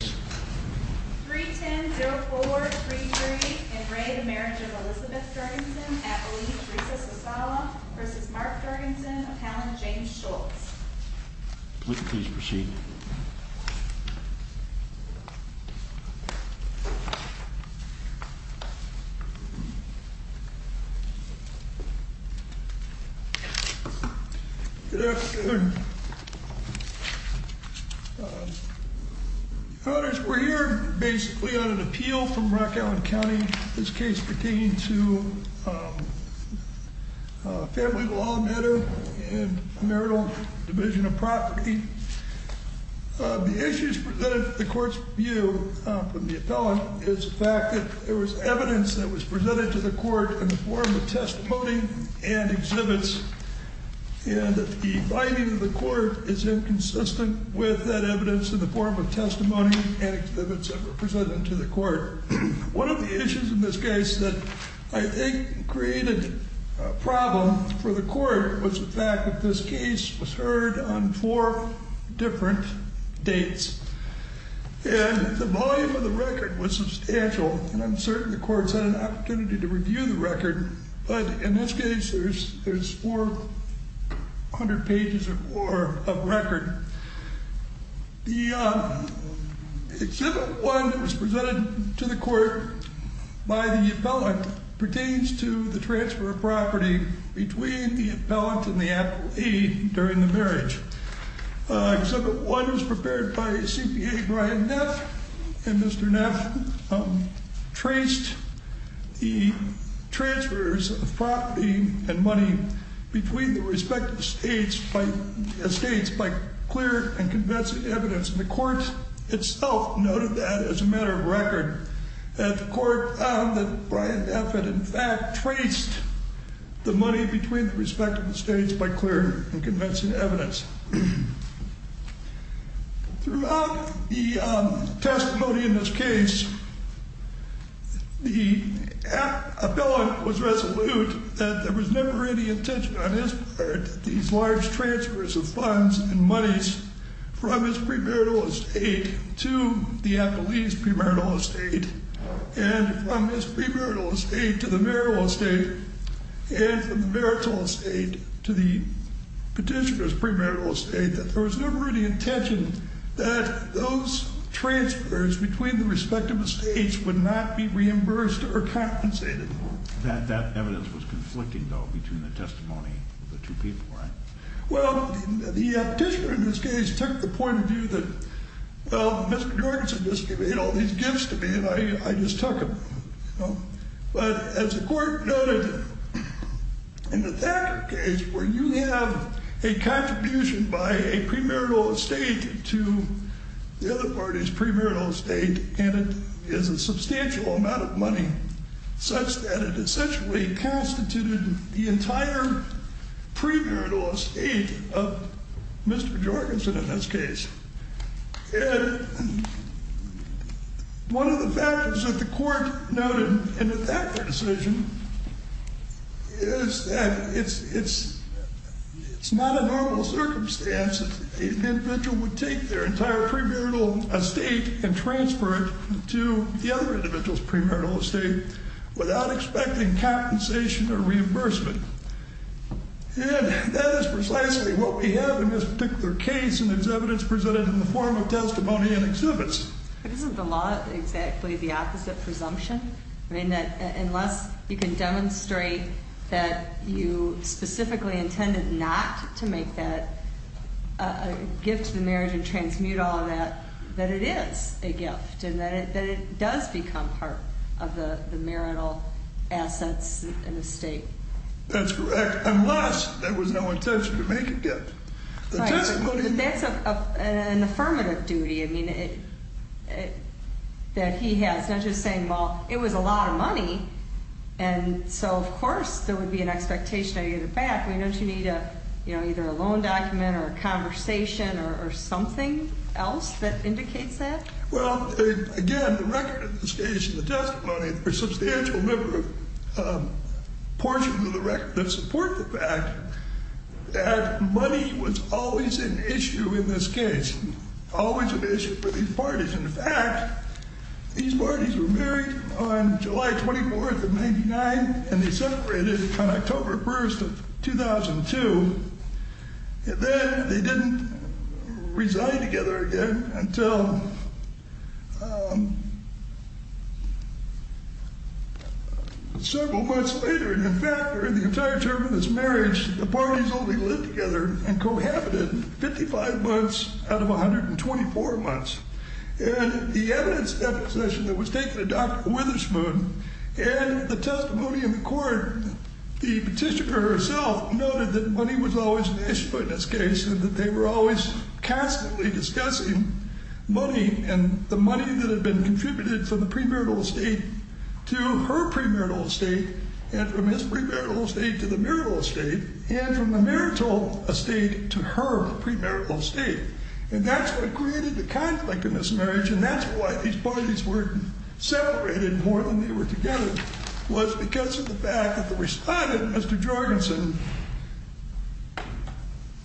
310-0433 in re to Marriage of Elizabeth Jorgenson, Appellee Teresa Sosala, versus Mark Jorgenson, Appellant James Schultz. Please proceed. Good afternoon. The issues presented in the court's view from the appellant is the fact that there was evidence that was presented to the court in the form of testimony and exhibits, and that the finding of the court is inconsistent with that evidence in the form of testimony and exhibits that were presented to the court. One of the issues in this case that I think created a problem for the court was the fact that this case was heard on four different dates. And the volume of the record was substantial, and I'm certain the court's had an opportunity to review the record, but in this case there's 400 pages or more of record. The exhibit one that was presented to the court by the appellant pertains to the transfer of property between the appellant and the appellee during the marriage. Exhibit one was prepared by CPA Brian Neff, and Mr. Neff traced the transfers of property and money between the respective states by clear and convincing evidence. And the court itself noted that as a matter of record, that the court found that Brian Neff had in fact traced the money between the respective states by clear and convincing evidence. Throughout the testimony in this case, the appellant was resolute that there was never any intention on his part that these large transfers of funds and monies from his premarital estate to the appellee's premarital estate, and from his premarital estate to the marital estate, and from the marital estate to the petitioner's premarital estate, that there was never any intention that those transfers between the respective states would not be reimbursed or compensated. That evidence was conflicting, though, between the testimony of the two people, right? Well, the petitioner in this case took the point of view that, well, Mr. Jorgensen just gave me all these gifts to me, and I just took them. But as the court noted, in the Thacker case, where you have a contribution by a premarital estate to the other party's premarital estate, and it is a substantial amount of money, such that it essentially constituted the entire premarital estate of Mr. Jorgensen in this case. And one of the factors that the court noted in the Thacker decision is that it's not a normal circumstance that an individual would take their entire premarital estate and transfer it to the other individual's premarital estate without expecting compensation or reimbursement. And that is precisely what we have in this particular case, and it's evidence presented in the form of testimony and exhibits. But isn't the law exactly the opposite presumption? I mean, that unless you can demonstrate that you specifically intended not to make that a gift to the marriage and transmute all of that, that it is a gift, and that it does become part of the marital assets in the state. That's correct. Unless there was no intention to make a gift. That's an affirmative duty. I mean, that he has. Not just saying, well, it was a lot of money, and so, of course, there would be an expectation of getting it back. Why don't you need either a loan document or a conversation or something else that indicates that? Well, again, the record of this case and the testimony are a substantial number of portions of the record that support the fact that money was always an issue in this case, always an issue for these parties. In fact, these parties were married on July 24th of 99, and they separated on October 1st of 2002. And then they didn't reside together again until several months later. And, in fact, during the entire term of this marriage, the parties only lived together and cohabited 55 months out of 124 months. And the evidence that was taken of Dr. Witherspoon and the testimony in the court, the petitioner herself noted that money was always an issue in this case and that they were always constantly discussing money and the money that had been contributed from the premarital estate to her premarital estate and from his premarital estate to the marital estate and from the marital estate to her premarital estate. And that's what created the conflict in this marriage, and that's why these parties were separated more than they were together, was because of the fact that the respondent, Mr. Jorgensen,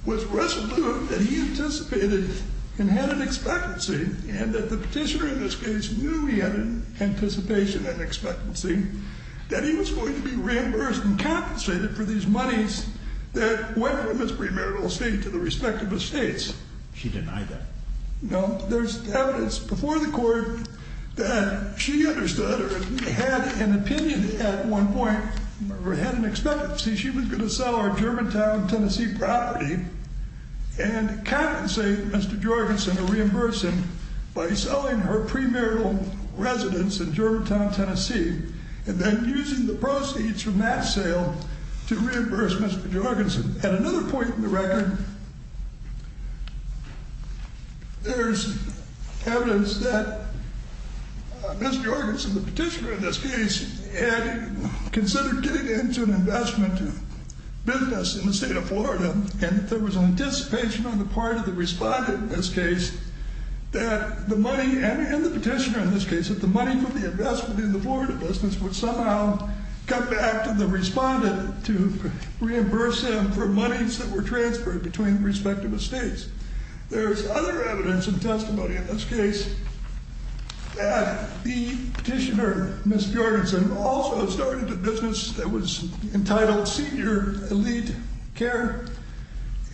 was resolute that he anticipated and had an expectancy and that the petitioner in this case knew he had an anticipation and expectancy that he was going to be reimbursed and compensated for these monies that went from his premarital estate to the respective estates. She denied that. No, there's evidence before the court that she understood or had an opinion at one point or had an expectancy she was going to sell our Germantown, Tennessee property and compensate Mr. Jorgensen or reimburse him by selling her premarital residence in Germantown, Tennessee, and then using the proceeds from that sale to reimburse Mr. Jorgensen. At another point in the record, there's evidence that Mr. Jorgensen, the petitioner in this case, had considered getting into an investment business in the state of Florida, and there was an anticipation on the part of the respondent in this case that the money, and the petitioner in this case, that the money from the investment in the Florida business would somehow come back to the respondent to reimburse him. And for monies that were transferred between the respective estates. There's other evidence and testimony in this case that the petitioner, Ms. Jorgensen, also started a business that was entitled Senior Elite Care,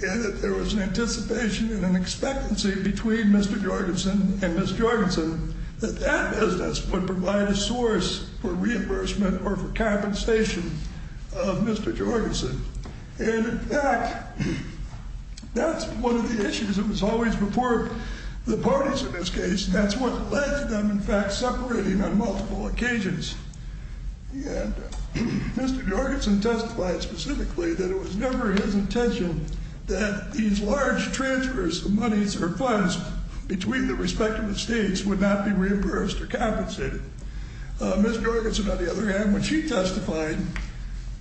and that there was an anticipation and an expectancy between Mr. Jorgensen and Ms. Jorgensen that that business would provide a source for reimbursement or for compensation of Mr. Jorgensen. And in fact, that's one of the issues that was always before the parties in this case. That's what led to them, in fact, separating on multiple occasions. And Mr. Jorgensen testified specifically that it was never his intention that these large transfers of monies or funds between the respective estates would not be reimbursed or compensated. Ms. Jorgensen, on the other hand, when she testified,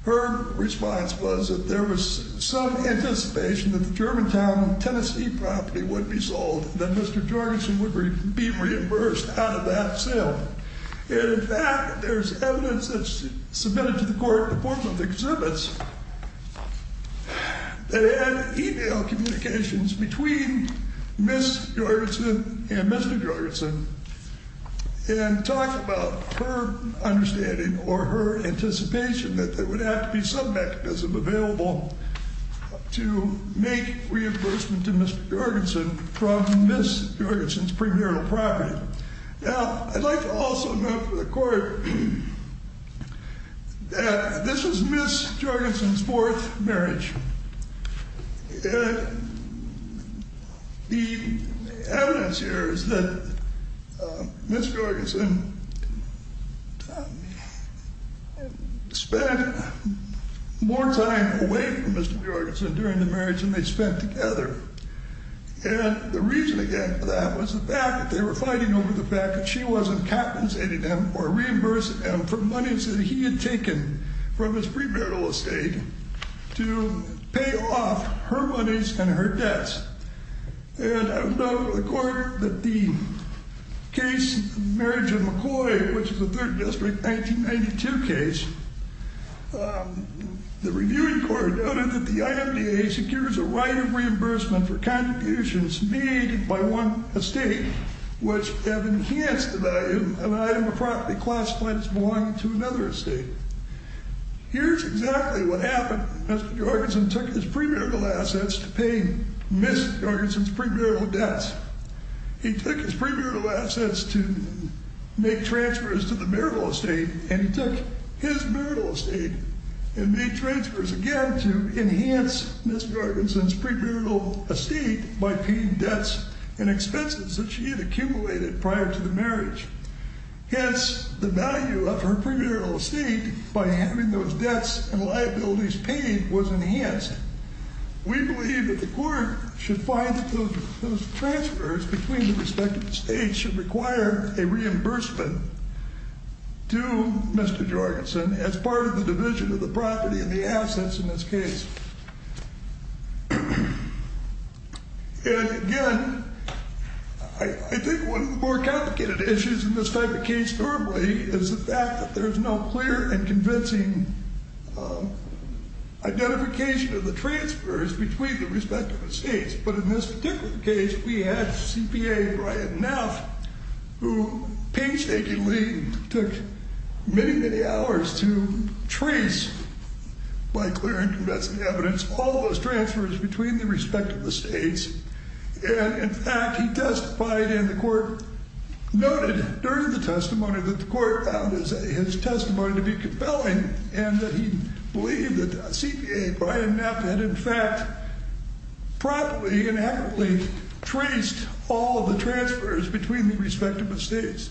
her response was that there was some anticipation that the Germantown, Tennessee property would be sold, that Mr. Jorgensen would be reimbursed out of that sale. And in fact, there's evidence that's submitted to the court in the form of exhibits that had email communications between Ms. Jorgensen and Mr. Jorgensen. And talked about her understanding or her anticipation that there would have to be some mechanism available to make reimbursement to Mr. Jorgensen from Ms. Jorgensen's premarital property. Now, I'd like to also note for the court that this was Ms. Jorgensen's fourth marriage. And the evidence here is that Ms. Jorgensen spent more time away from Mr. Jorgensen during the marriage than they spent together. And the reason, again, for that was the fact that they were fighting over the fact that she wasn't compensating him or reimbursing him for monies that he had taken from his premarital estate to pay off her monies and her debts. And I would note for the court that the case of the marriage of McCoy, which is a Third District 1992 case, the reviewing court noted that the IMDA secures a right of reimbursement for contributions made by one estate, which have enhanced the value of an item of property classified as belonging to another estate. Here's exactly what happened. Mr. Jorgensen took his premarital assets to pay Ms. Jorgensen's premarital debts. He took his premarital assets to make transfers to the marital estate, and he took his marital estate and made transfers again to enhance Ms. Jorgensen's premarital estate by paying debts and expenses that she had accumulated prior to the marriage. Hence, the value of her premarital estate by having those debts and liabilities paid was enhanced. We believe that the court should find that those transfers between the respective states should require a reimbursement to Mr. Jorgensen as part of the division of the property and the assets in this case. And again, I think one of the more complicated issues in this type of case normally is the fact that there's no clear and convincing identification of the transfers between the respective states. But in this particular case, we had CPA Brian Neff, who painstakingly took many, many hours to trace, by clear and convincing evidence, all those transfers between the respective states. And in fact, he testified, and the court noted during the testimony that the court found his testimony to be compelling, and that he believed that CPA Brian Neff had, in fact, properly and accurately traced all of the transfers between the respective states.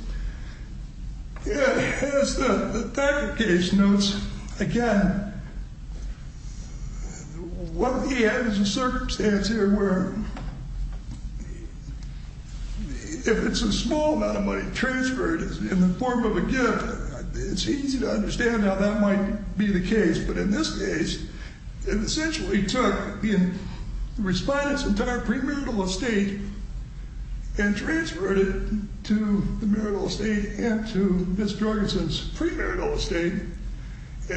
As the fact of the case notes, again, what he had was a circumstance here where if it's a small amount of money transferred in the form of a gift, it's easy to understand how that might be the case. But in this case, it essentially took the respondent's entire premarital estate and transferred it to the marital estate and to Ms. Jorgensen's premarital estate. Who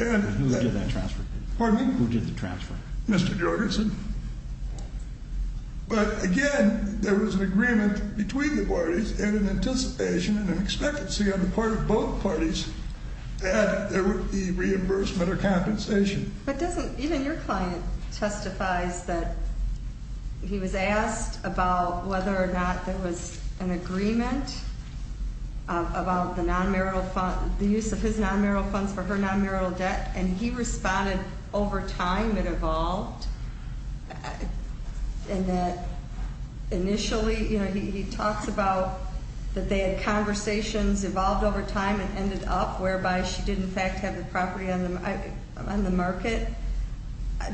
did that transfer? Pardon me? Who did the transfer? Mr. Jorgensen. But again, there was an agreement between the parties and an anticipation and an expectancy on the part of both parties that there would be reimbursement or compensation. But doesn't, even your client testifies that he was asked about whether or not there was an agreement about the non-marital fund, the use of his non-marital funds for her non-marital debt. And he responded, over time, it evolved. And that initially, you know, he talks about that they had conversations, evolved over time, and ended up whereby she did, in fact, have the property on the market.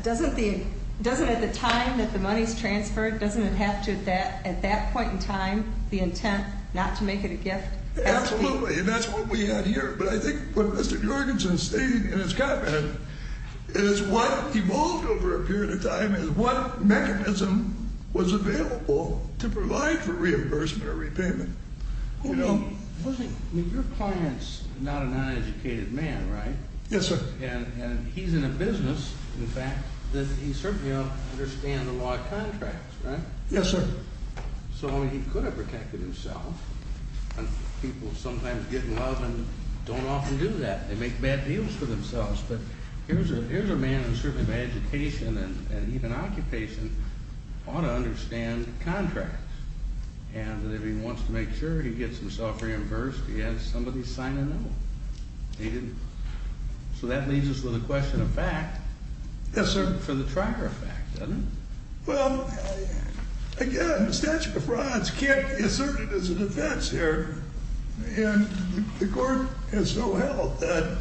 Doesn't the, doesn't at the time that the money's transferred, doesn't it have to at that point in time, the intent not to make it a gift? Absolutely. And that's what we had here. But I think what Mr. Jorgensen stated in his comment is what evolved over a period of time is what mechanism was available to provide for reimbursement or repayment. I mean, your client's not a non-educated man, right? Yes, sir. And he's in a business, in fact, that he certainly don't understand the law of contracts, right? Yes, sir. So he could have protected himself. And people sometimes get in love and don't often do that. They make bad deals for themselves. But here's a man in the service of education and even occupation ought to understand contracts. And if he wants to make sure he gets himself reimbursed, he has somebody sign a note. He didn't. So that leaves us with a question of fact. Yes, sir. For the Trier effect, doesn't it? Well, again, the statute of frauds can't be asserted as a defense here. And the court has so held that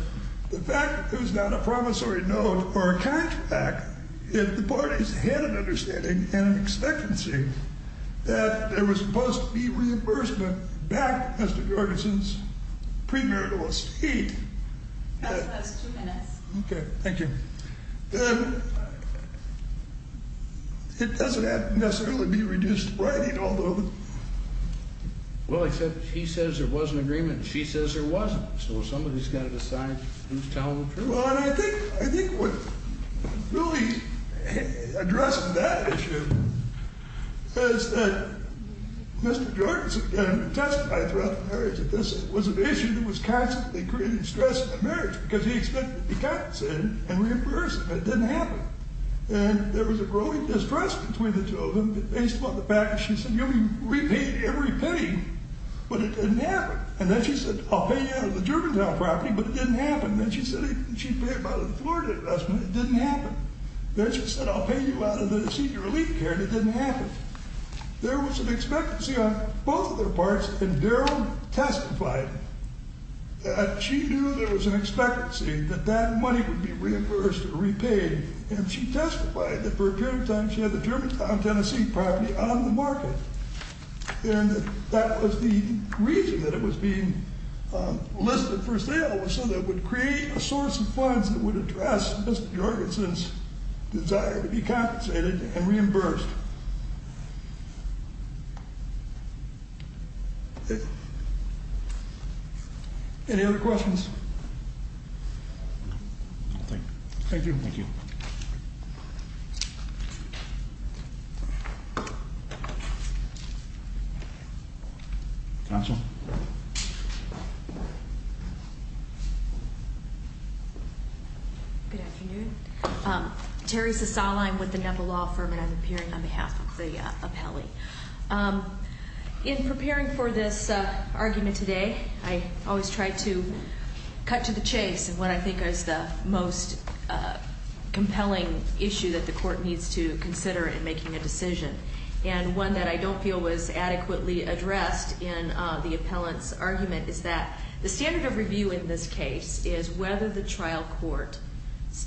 the fact that there's not a promissory note or a contract, the parties had an understanding and an expectancy that there was supposed to be reimbursement back, Mr. Jorgensen's premarital estate. That's the last two minutes. Okay. Thank you. It doesn't have to necessarily be reduced to writing, although. Well, except he says there was an agreement and she says there wasn't. So somebody's got to decide who's telling the truth. Well, I think what really addresses that issue is that Mr. Jorgensen testified throughout the marriage that this was an issue that was constantly creating stress in the marriage because he expected to be compensated and reimbursed, but it didn't happen. And there was a growing distrust between the two of them based upon the fact that she said you'll be repaid every penny, but it didn't happen. And then she said I'll pay you out of the Germantown property, but it didn't happen. And then she said she'd pay it by the Florida investment. It didn't happen. Then she said I'll pay you out of the senior elite care, and it didn't happen. There was an expectancy on both of their parts, and Daryl testified that she knew there was an expectancy that that money would be reimbursed or repaid, and she testified that for a period of time she had the Germantown, Tennessee property on the market. And that was the reason that it was being listed for sale was so that it would create a source of funds that would address Mr. Jorgensen's desire to be compensated and reimbursed. Any other questions? Thank you. Counsel. Good afternoon. Terri Sasala. I'm with the NEPA law firm, and I'm appearing on behalf of the appellee. In preparing for this argument today, I always try to cut to the chase in what I think is the most compelling issue that the court needs to consider in making a decision, and one that I don't feel was adequately addressed in the appellant's argument is that the standard of review in this case is whether the trial court's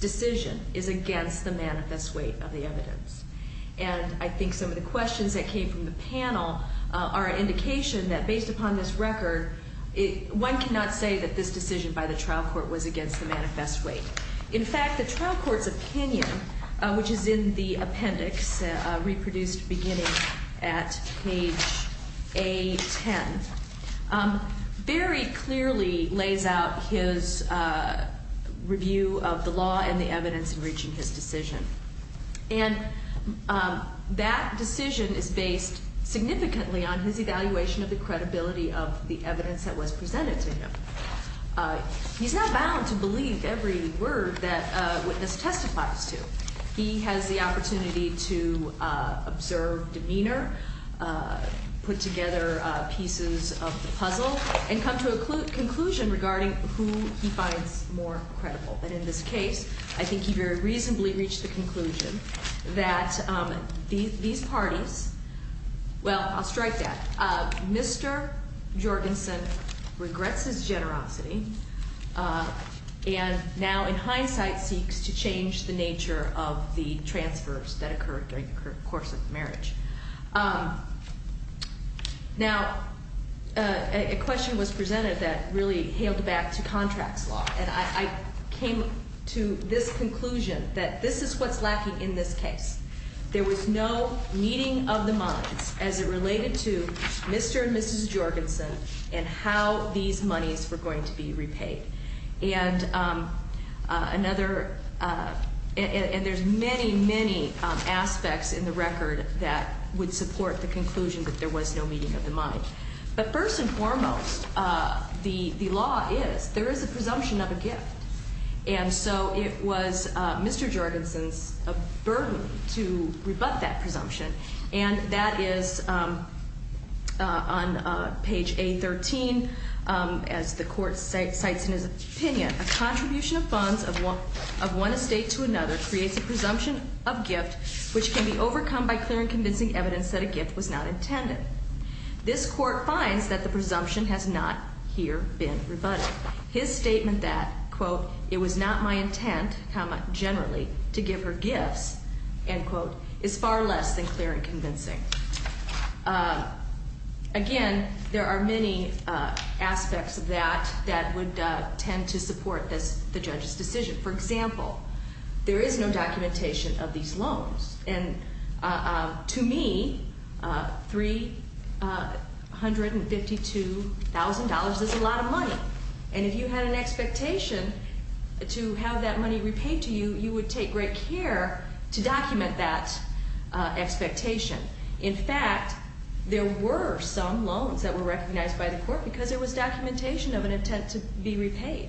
decision is against the manifest weight of the evidence. And I think some of the questions that came from the panel are an indication that based upon this record, one cannot say that this decision by the trial court was against the manifest weight. In fact, the trial court's opinion, which is in the appendix reproduced beginning at page A10, very clearly lays out his review of the law and the evidence in reaching his decision. And that decision is based significantly on his evaluation of the credibility of the evidence that was presented to him. He's not bound to believe every word that a witness testifies to. He has the opportunity to observe demeanor, put together pieces of the puzzle, and come to a conclusion regarding who he finds more credible. And in this case, I think he very reasonably reached the conclusion that these parties, well, I'll strike that. Mr. Jorgensen regrets his generosity and now in hindsight seeks to change the nature of the transfers that occurred during the course of the marriage. Now, a question was presented that really hailed back to contracts law, and I came to this conclusion that this is what's lacking in this case. There was no meeting of the minds as it related to Mr. and Mrs. Jorgensen and how these monies were going to be repaid. And there's many, many aspects in the record that would support the conclusion that there was no meeting of the mind. But first and foremost, the law is, there is a presumption of a gift. And so it was Mr. Jorgensen's burden to rebut that presumption. And that is on page A13 as the court cites in his opinion. A contribution of funds of one estate to another creates a presumption of gift which can be overcome by clear and convincing evidence that a gift was not intended. This court finds that the presumption has not here been rebutted. His statement that, quote, it was not my intent, comma, generally, to give her gifts, end quote, is far less than clear and convincing. Again, there are many aspects of that that would tend to support the judge's decision. For example, there is no documentation of these loans. And to me, $352,000 is a lot of money. And if you had an expectation to have that money repaid to you, you would take great care to document that expectation. In fact, there were some loans that were recognized by the court because there was documentation of an intent to be repaid.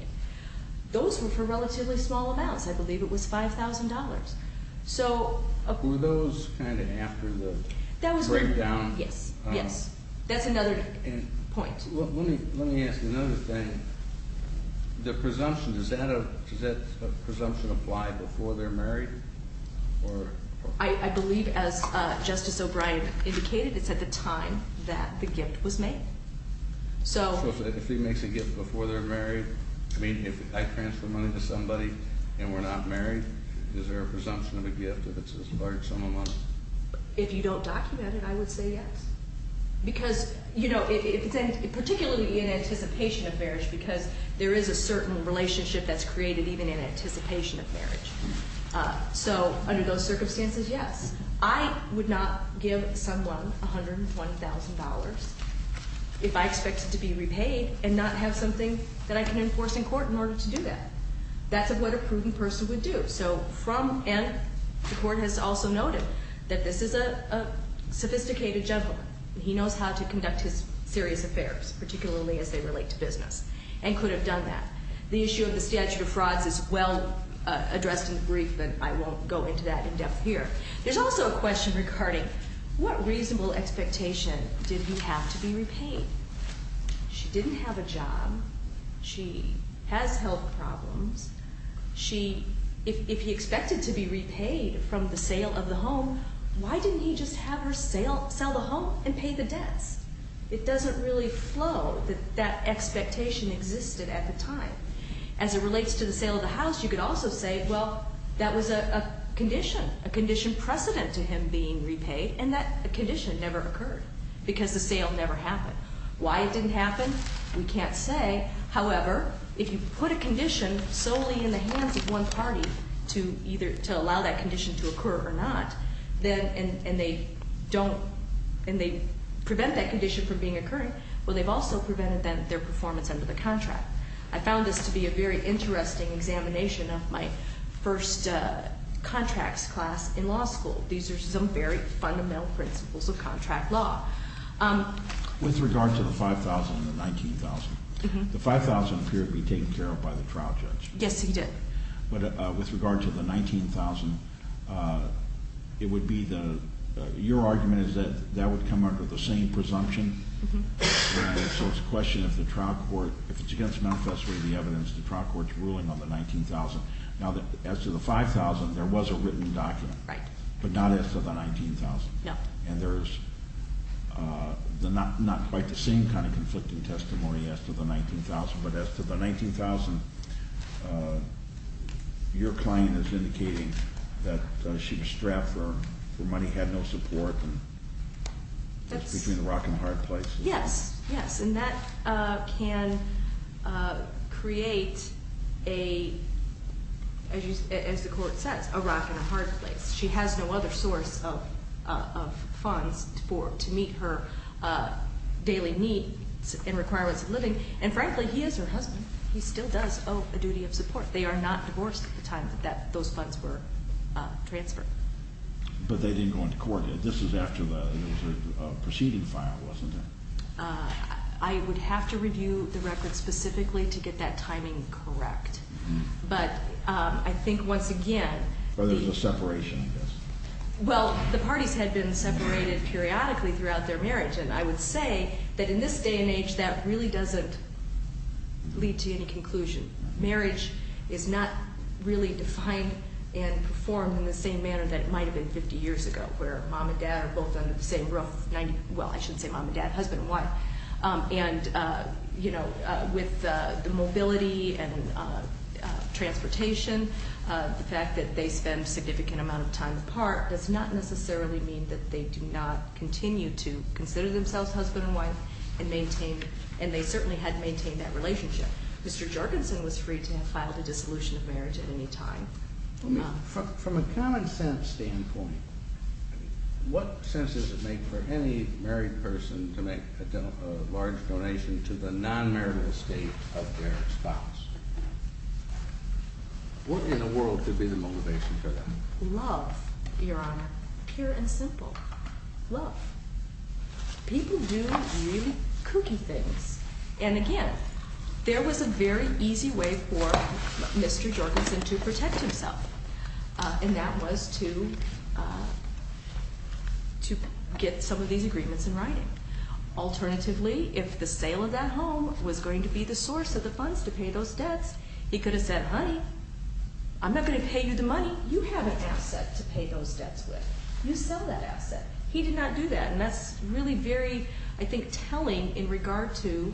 Those were for relatively small amounts. I believe it was $5,000. So- Were those kind of after the breakdown? Yes, yes. That's another point. Let me ask another thing. The presumption, does that presumption apply before they're married? I believe, as Justice O'Brien indicated, it's at the time that the gift was made. So- If you don't document it, I would say yes. Because, you know, particularly in anticipation of marriage, because there is a certain relationship that's created even in anticipation of marriage. So under those circumstances, yes. I would not give someone $120,000 if I expected to be repaid and not have something that I can enforce in court in order to do that. That's what a prudent person would do. So from- And the court has also noted that this is a sophisticated gentleman. He knows how to conduct his serious affairs, particularly as they relate to business, and could have done that. The issue of the statute of frauds is well addressed in the brief, but I won't go into that in depth here. There's also a question regarding what reasonable expectation did he have to be repaid? She didn't have a job. She has health problems. She- If he expected to be repaid from the sale of the home, why didn't he just have her sell the home and pay the debts? It doesn't really flow that that expectation existed at the time. As it relates to the sale of the house, you could also say, well, that was a condition, a condition precedent to him being repaid, and that condition never occurred because the sale never happened. Why it didn't happen, we can't say. However, if you put a condition solely in the hands of one party to either allow that condition to occur or not, and they prevent that condition from being occurring, well, they've also prevented their performance under the contract. I found this to be a very interesting examination of my first contracts class in law school. These are some very fundamental principles of contract law. With regard to the 5,000 and the 19,000, the 5,000 appeared to be taken care of by the trial judge. Yes, he did. But with regard to the 19,000, it would be the, your argument is that that would come under the same presumption? Mm-hm. So it's a question of the trial court, if it's against the manifesto of the evidence, the trial court's ruling on the 19,000. Now, as to the 5,000, there was a written document. Right. But not as to the 19,000. No. And there's not quite the same kind of conflicting testimony as to the 19,000. But as to the 19,000, your client is indicating that she was strapped for money, had no support, and it's between a rock and a hard place. Yes, yes. And that can create a, as the court says, a rock and a hard place. She has no other source of funds to meet her daily needs and requirements of living. And, frankly, he is her husband. He still does owe a duty of support. They are not divorced at the time that those funds were transferred. But they didn't go into court. This is after the proceeding file, wasn't it? I would have to review the record specifically to get that timing correct. Mm-hm. But I think, once again. Well, there's a separation, I guess. Well, the parties had been separated periodically throughout their marriage. And I would say that in this day and age, that really doesn't lead to any conclusion. Marriage is not really defined and performed in the same manner that it might have been 50 years ago, where mom and dad are both under the same roof. Well, I shouldn't say mom and dad, husband and wife. And, you know, with the mobility and transportation, the fact that they spend a significant amount of time apart does not necessarily mean that they do not continue to consider themselves husband and wife. And they certainly had maintained that relationship. Mr. Jorgensen was free to have filed a dissolution of marriage at any time. From a common sense standpoint, what sense does it make for any married person to make a large donation to the non-marital estate of their spouse? What in the world could be the motivation for that? Love, Your Honor. Pure and simple. Love. People do really kooky things. And again, there was a very easy way for Mr. Jorgensen to protect himself. And that was to get some of these agreements in writing. Alternatively, if the sale of that home was going to be the source of the funds to pay those debts, he could have said, Honey, I'm not going to pay you the money. You have an asset to pay those debts with. You sell that asset. He did not do that. And that's really very, I think, telling in regard to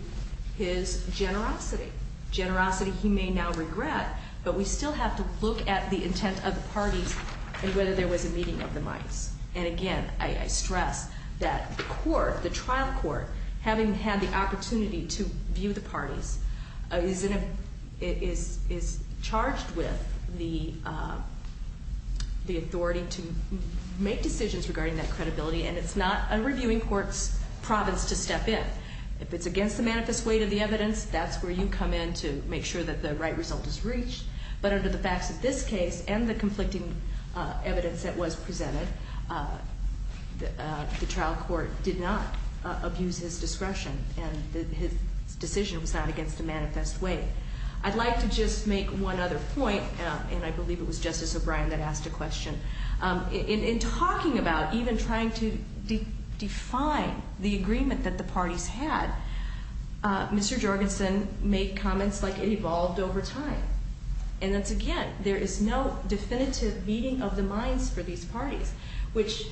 his generosity. Generosity he may now regret, but we still have to look at the intent of the parties and whether there was a meeting of the minds. And again, I stress that the court, the trial court, having had the opportunity to view the parties, is charged with the authority to make decisions regarding that credibility. And it's not a reviewing court's province to step in. If it's against the manifest weight of the evidence, that's where you come in to make sure that the right result is reached. But under the facts of this case and the conflicting evidence that was presented, the trial court did not abuse his discretion. And his decision was not against the manifest weight. I'd like to just make one other point, and I believe it was Justice O'Brien that asked a question. In talking about even trying to define the agreement that the parties had, Mr. Jorgensen made comments like it evolved over time. And that's, again, there is no definitive meeting of the minds for these parties, which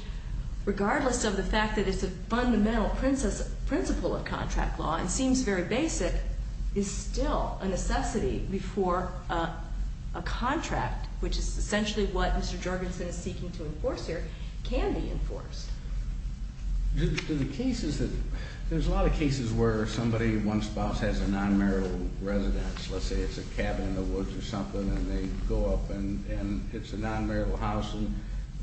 regardless of the fact that it's a fundamental principle of contract law and seems very basic, is still a necessity before a contract, which is essentially what Mr. Jorgensen is seeking to enforce here, can be enforced. There's a lot of cases where somebody, one spouse, has a non-marital residence. Let's say it's a cabin in the woods or something, and they go up and it's a non-marital house, and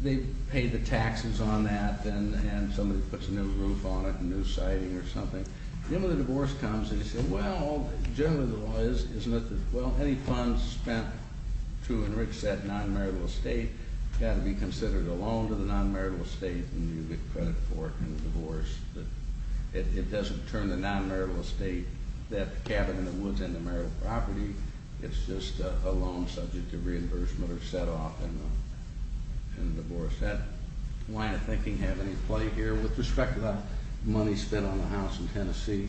they pay the taxes on that, and somebody puts a new roof on it, a new siding or something. The end of the divorce comes, and you say, well, generally the law is, well, any funds spent to enrich that non-marital estate got to be considered a loan to the non-marital estate, and you get credit for it in the divorce. It doesn't turn the non-marital estate, that cabin in the woods, into marital property. It's just a loan subject to reimbursement or set off in the divorce. Does that line of thinking have any play here with respect to the money spent on the house in Tennessee?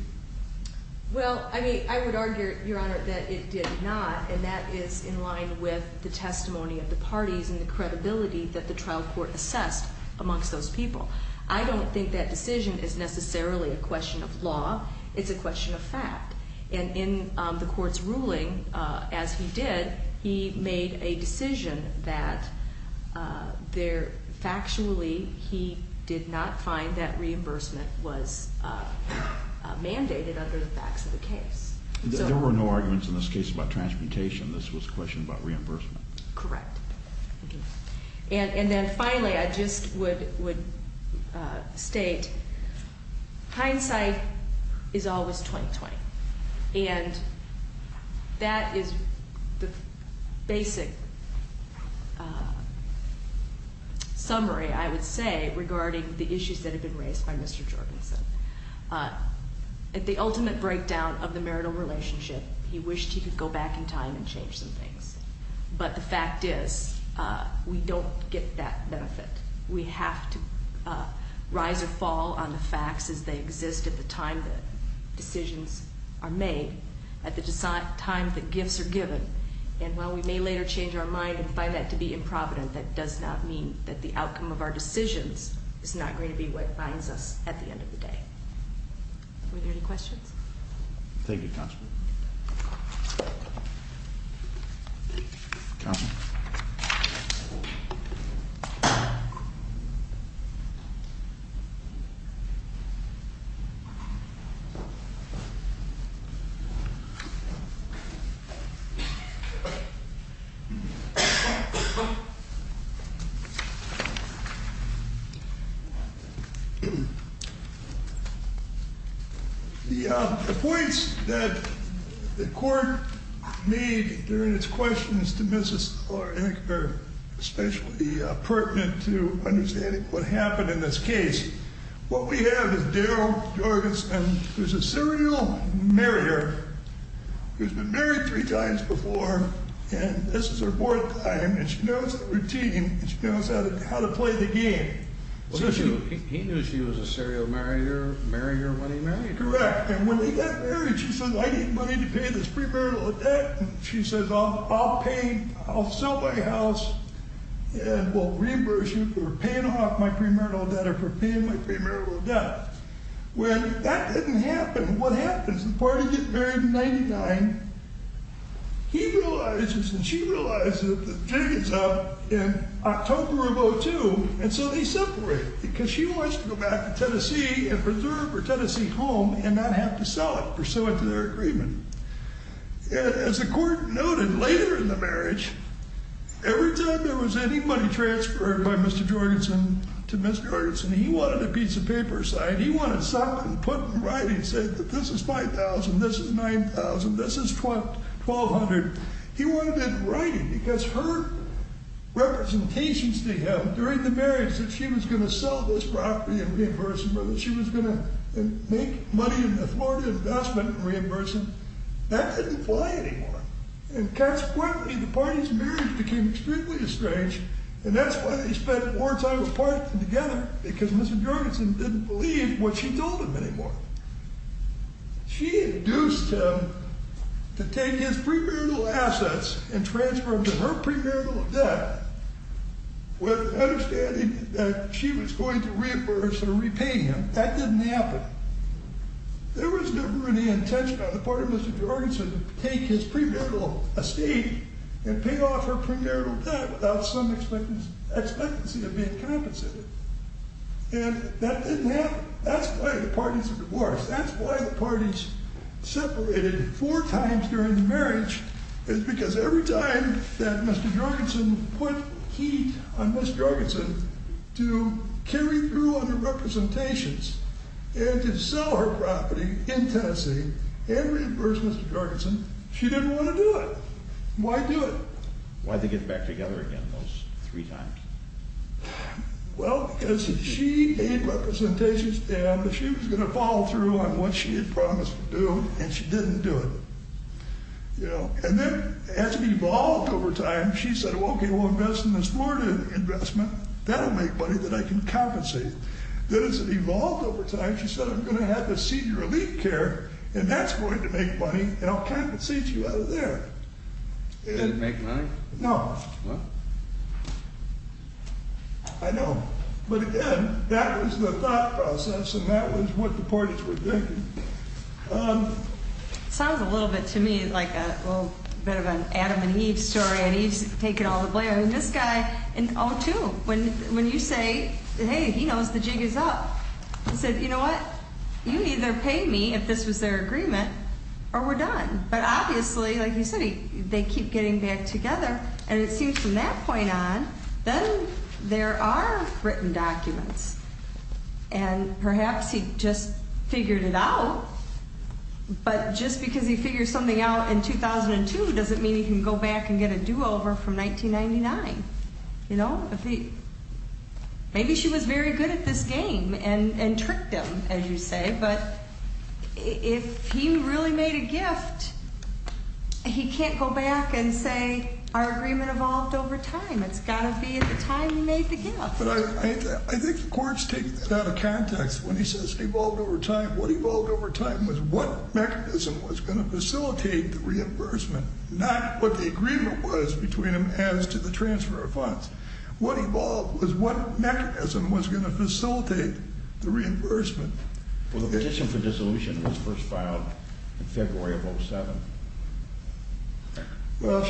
Well, I would argue, Your Honor, that it did not, and that is in line with the testimony of the parties and the credibility that the trial court assessed amongst those people. I don't think that decision is necessarily a question of law. It's a question of fact. And in the court's ruling, as he did, he made a decision that factually he did not find that reimbursement was mandated under the facts of the case. There were no arguments in this case about transportation. This was a question about reimbursement. Correct. And then finally, I just would state, hindsight is always 20-20. And that is the basic summary, I would say, regarding the issues that have been raised by Mr. Jorgensen. At the ultimate breakdown of the marital relationship, he wished he could go back in time and change some things. But the fact is, we don't get that benefit. We have to rise or fall on the facts as they exist at the time that decisions are made, at the time that gifts are given. And while we may later change our mind and find that to be improvident, that does not mean that the outcome of our decisions is not going to be what binds us at the end of the day. Were there any questions? Thank you, Counselor. Counselor. The points that the Court made during its questions to Mrs. Ecker, especially pertinent to understanding what happened in this case. What we have is Daryl Jorgensen, who's a serial marrier, who's been married three times before, and this is her fourth time, and she knows the routine, and she knows how to play the game. He knew she was a serial marrier when he married her? Correct. And when they got married, she said, I need money to pay this premarital debt. She says, I'll pay, I'll sell my house and we'll reimburse you for paying off my premarital debt or for paying my premarital debt. When that didn't happen, what happens? The party gets married in 99. He realizes and she realizes that the jig is up in October of 02, and so they separate because she wants to go back to Tennessee and preserve her Tennessee home and not have to sell it pursuant to their agreement. As the court noted, later in the marriage, every time there was any money transferred by Mr. Jorgensen to Mrs. Jorgensen, he wanted a piece of paper signed. He wanted something put in writing that said this is $5,000, this is $9,000, this is $1,200. He wanted it in writing because her representations to him during the marriage that she was going to sell this property and reimburse him or that she was going to make money in the Florida investment and reimburse him, that didn't apply anymore. And consequently, the party's marriage became extremely estranged, and that's why they spent more time apart than together because Mrs. Jorgensen didn't believe what she told him anymore. She induced him to take his premarital assets and transfer them to her premarital debt with the understanding that she was going to reimburse or repay him. That didn't happen. There was never any intention on the part of Mr. Jorgensen to take his premarital estate and pay off her premarital debt without some expectancy of being compensated. And that didn't happen. That's why the parties are divorced. That's why the parties separated four times during the marriage is because every time that Mr. Jorgensen put heat on Mrs. Jorgensen to carry through on her representations and to sell her property in Tennessee and reimburse Mrs. Jorgensen, she didn't want to do it. Why do it? Why did they get back together again those three times? Well, because she gave representations and she was going to follow through on what she had promised to do, and she didn't do it. And then as it evolved over time, she said, okay, we'll invest in this Florida investment. That'll make money that I can compensate. Then as it evolved over time, she said, I'm going to have to cede your elite care, and that's going to make money, and I'll compensate you out of there. It didn't make money? No. I know. But again, that was the thought process, and that was what the parties were thinking. It sounds a little bit to me like a little bit of an Adam and Eve story, and Eve's taking all the blame. And this guy in 02, when you say, hey, he knows the jig is up, he said, you know what? You either pay me if this was their agreement or we're done. But obviously, like you said, they keep getting back together, and it seems from that point on, then there are written documents. And perhaps he just figured it out, but just because he figured something out in 2002 doesn't mean he can go back and get a do-over from 1999. Maybe she was very good at this game and tricked him, as you say, but if he really made a gift, he can't go back and say our agreement evolved over time. It's got to be at the time he made the gift. But I think the courts take that out of context. When he says it evolved over time, what evolved over time was what mechanism was going to facilitate the reimbursement, not what the agreement was between them as to the transfer of funds. What evolved was what mechanism was going to facilitate the reimbursement. Well, the petition for dissolution was first filed in February of 07. Well,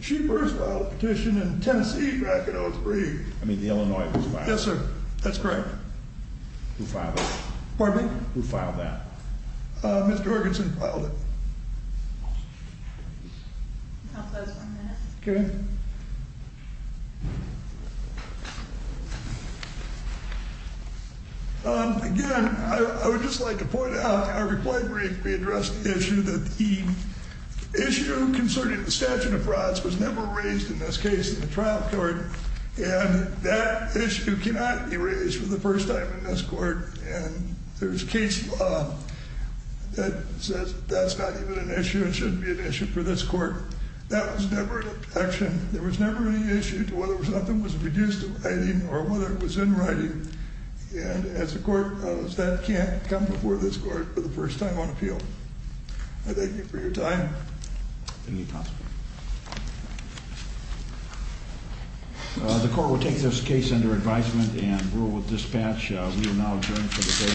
she first filed a petition in Tennessee back in 03. I mean, the Illinois was filed. Yes, sir. That's correct. Who filed it? Pardon me? Who filed that? Ms. Jorgensen filed it. Again, I would just like to point out, our reply brief addressed the issue that the issue concerning the statute of frauds was never raised in this case in the trial court. And that issue cannot be raised for the first time in this court. And there's case law that says that's not even an issue and shouldn't be an issue for this court. That was never an action. There was never any issue to whether something was reduced in writing or whether it was in writing. And as the court knows, that can't come before this court for the first time on appeal. I thank you for your time. Thank you, counsel. The court will take this case under advisement and rule with dispatch. We will now adjourn for the day.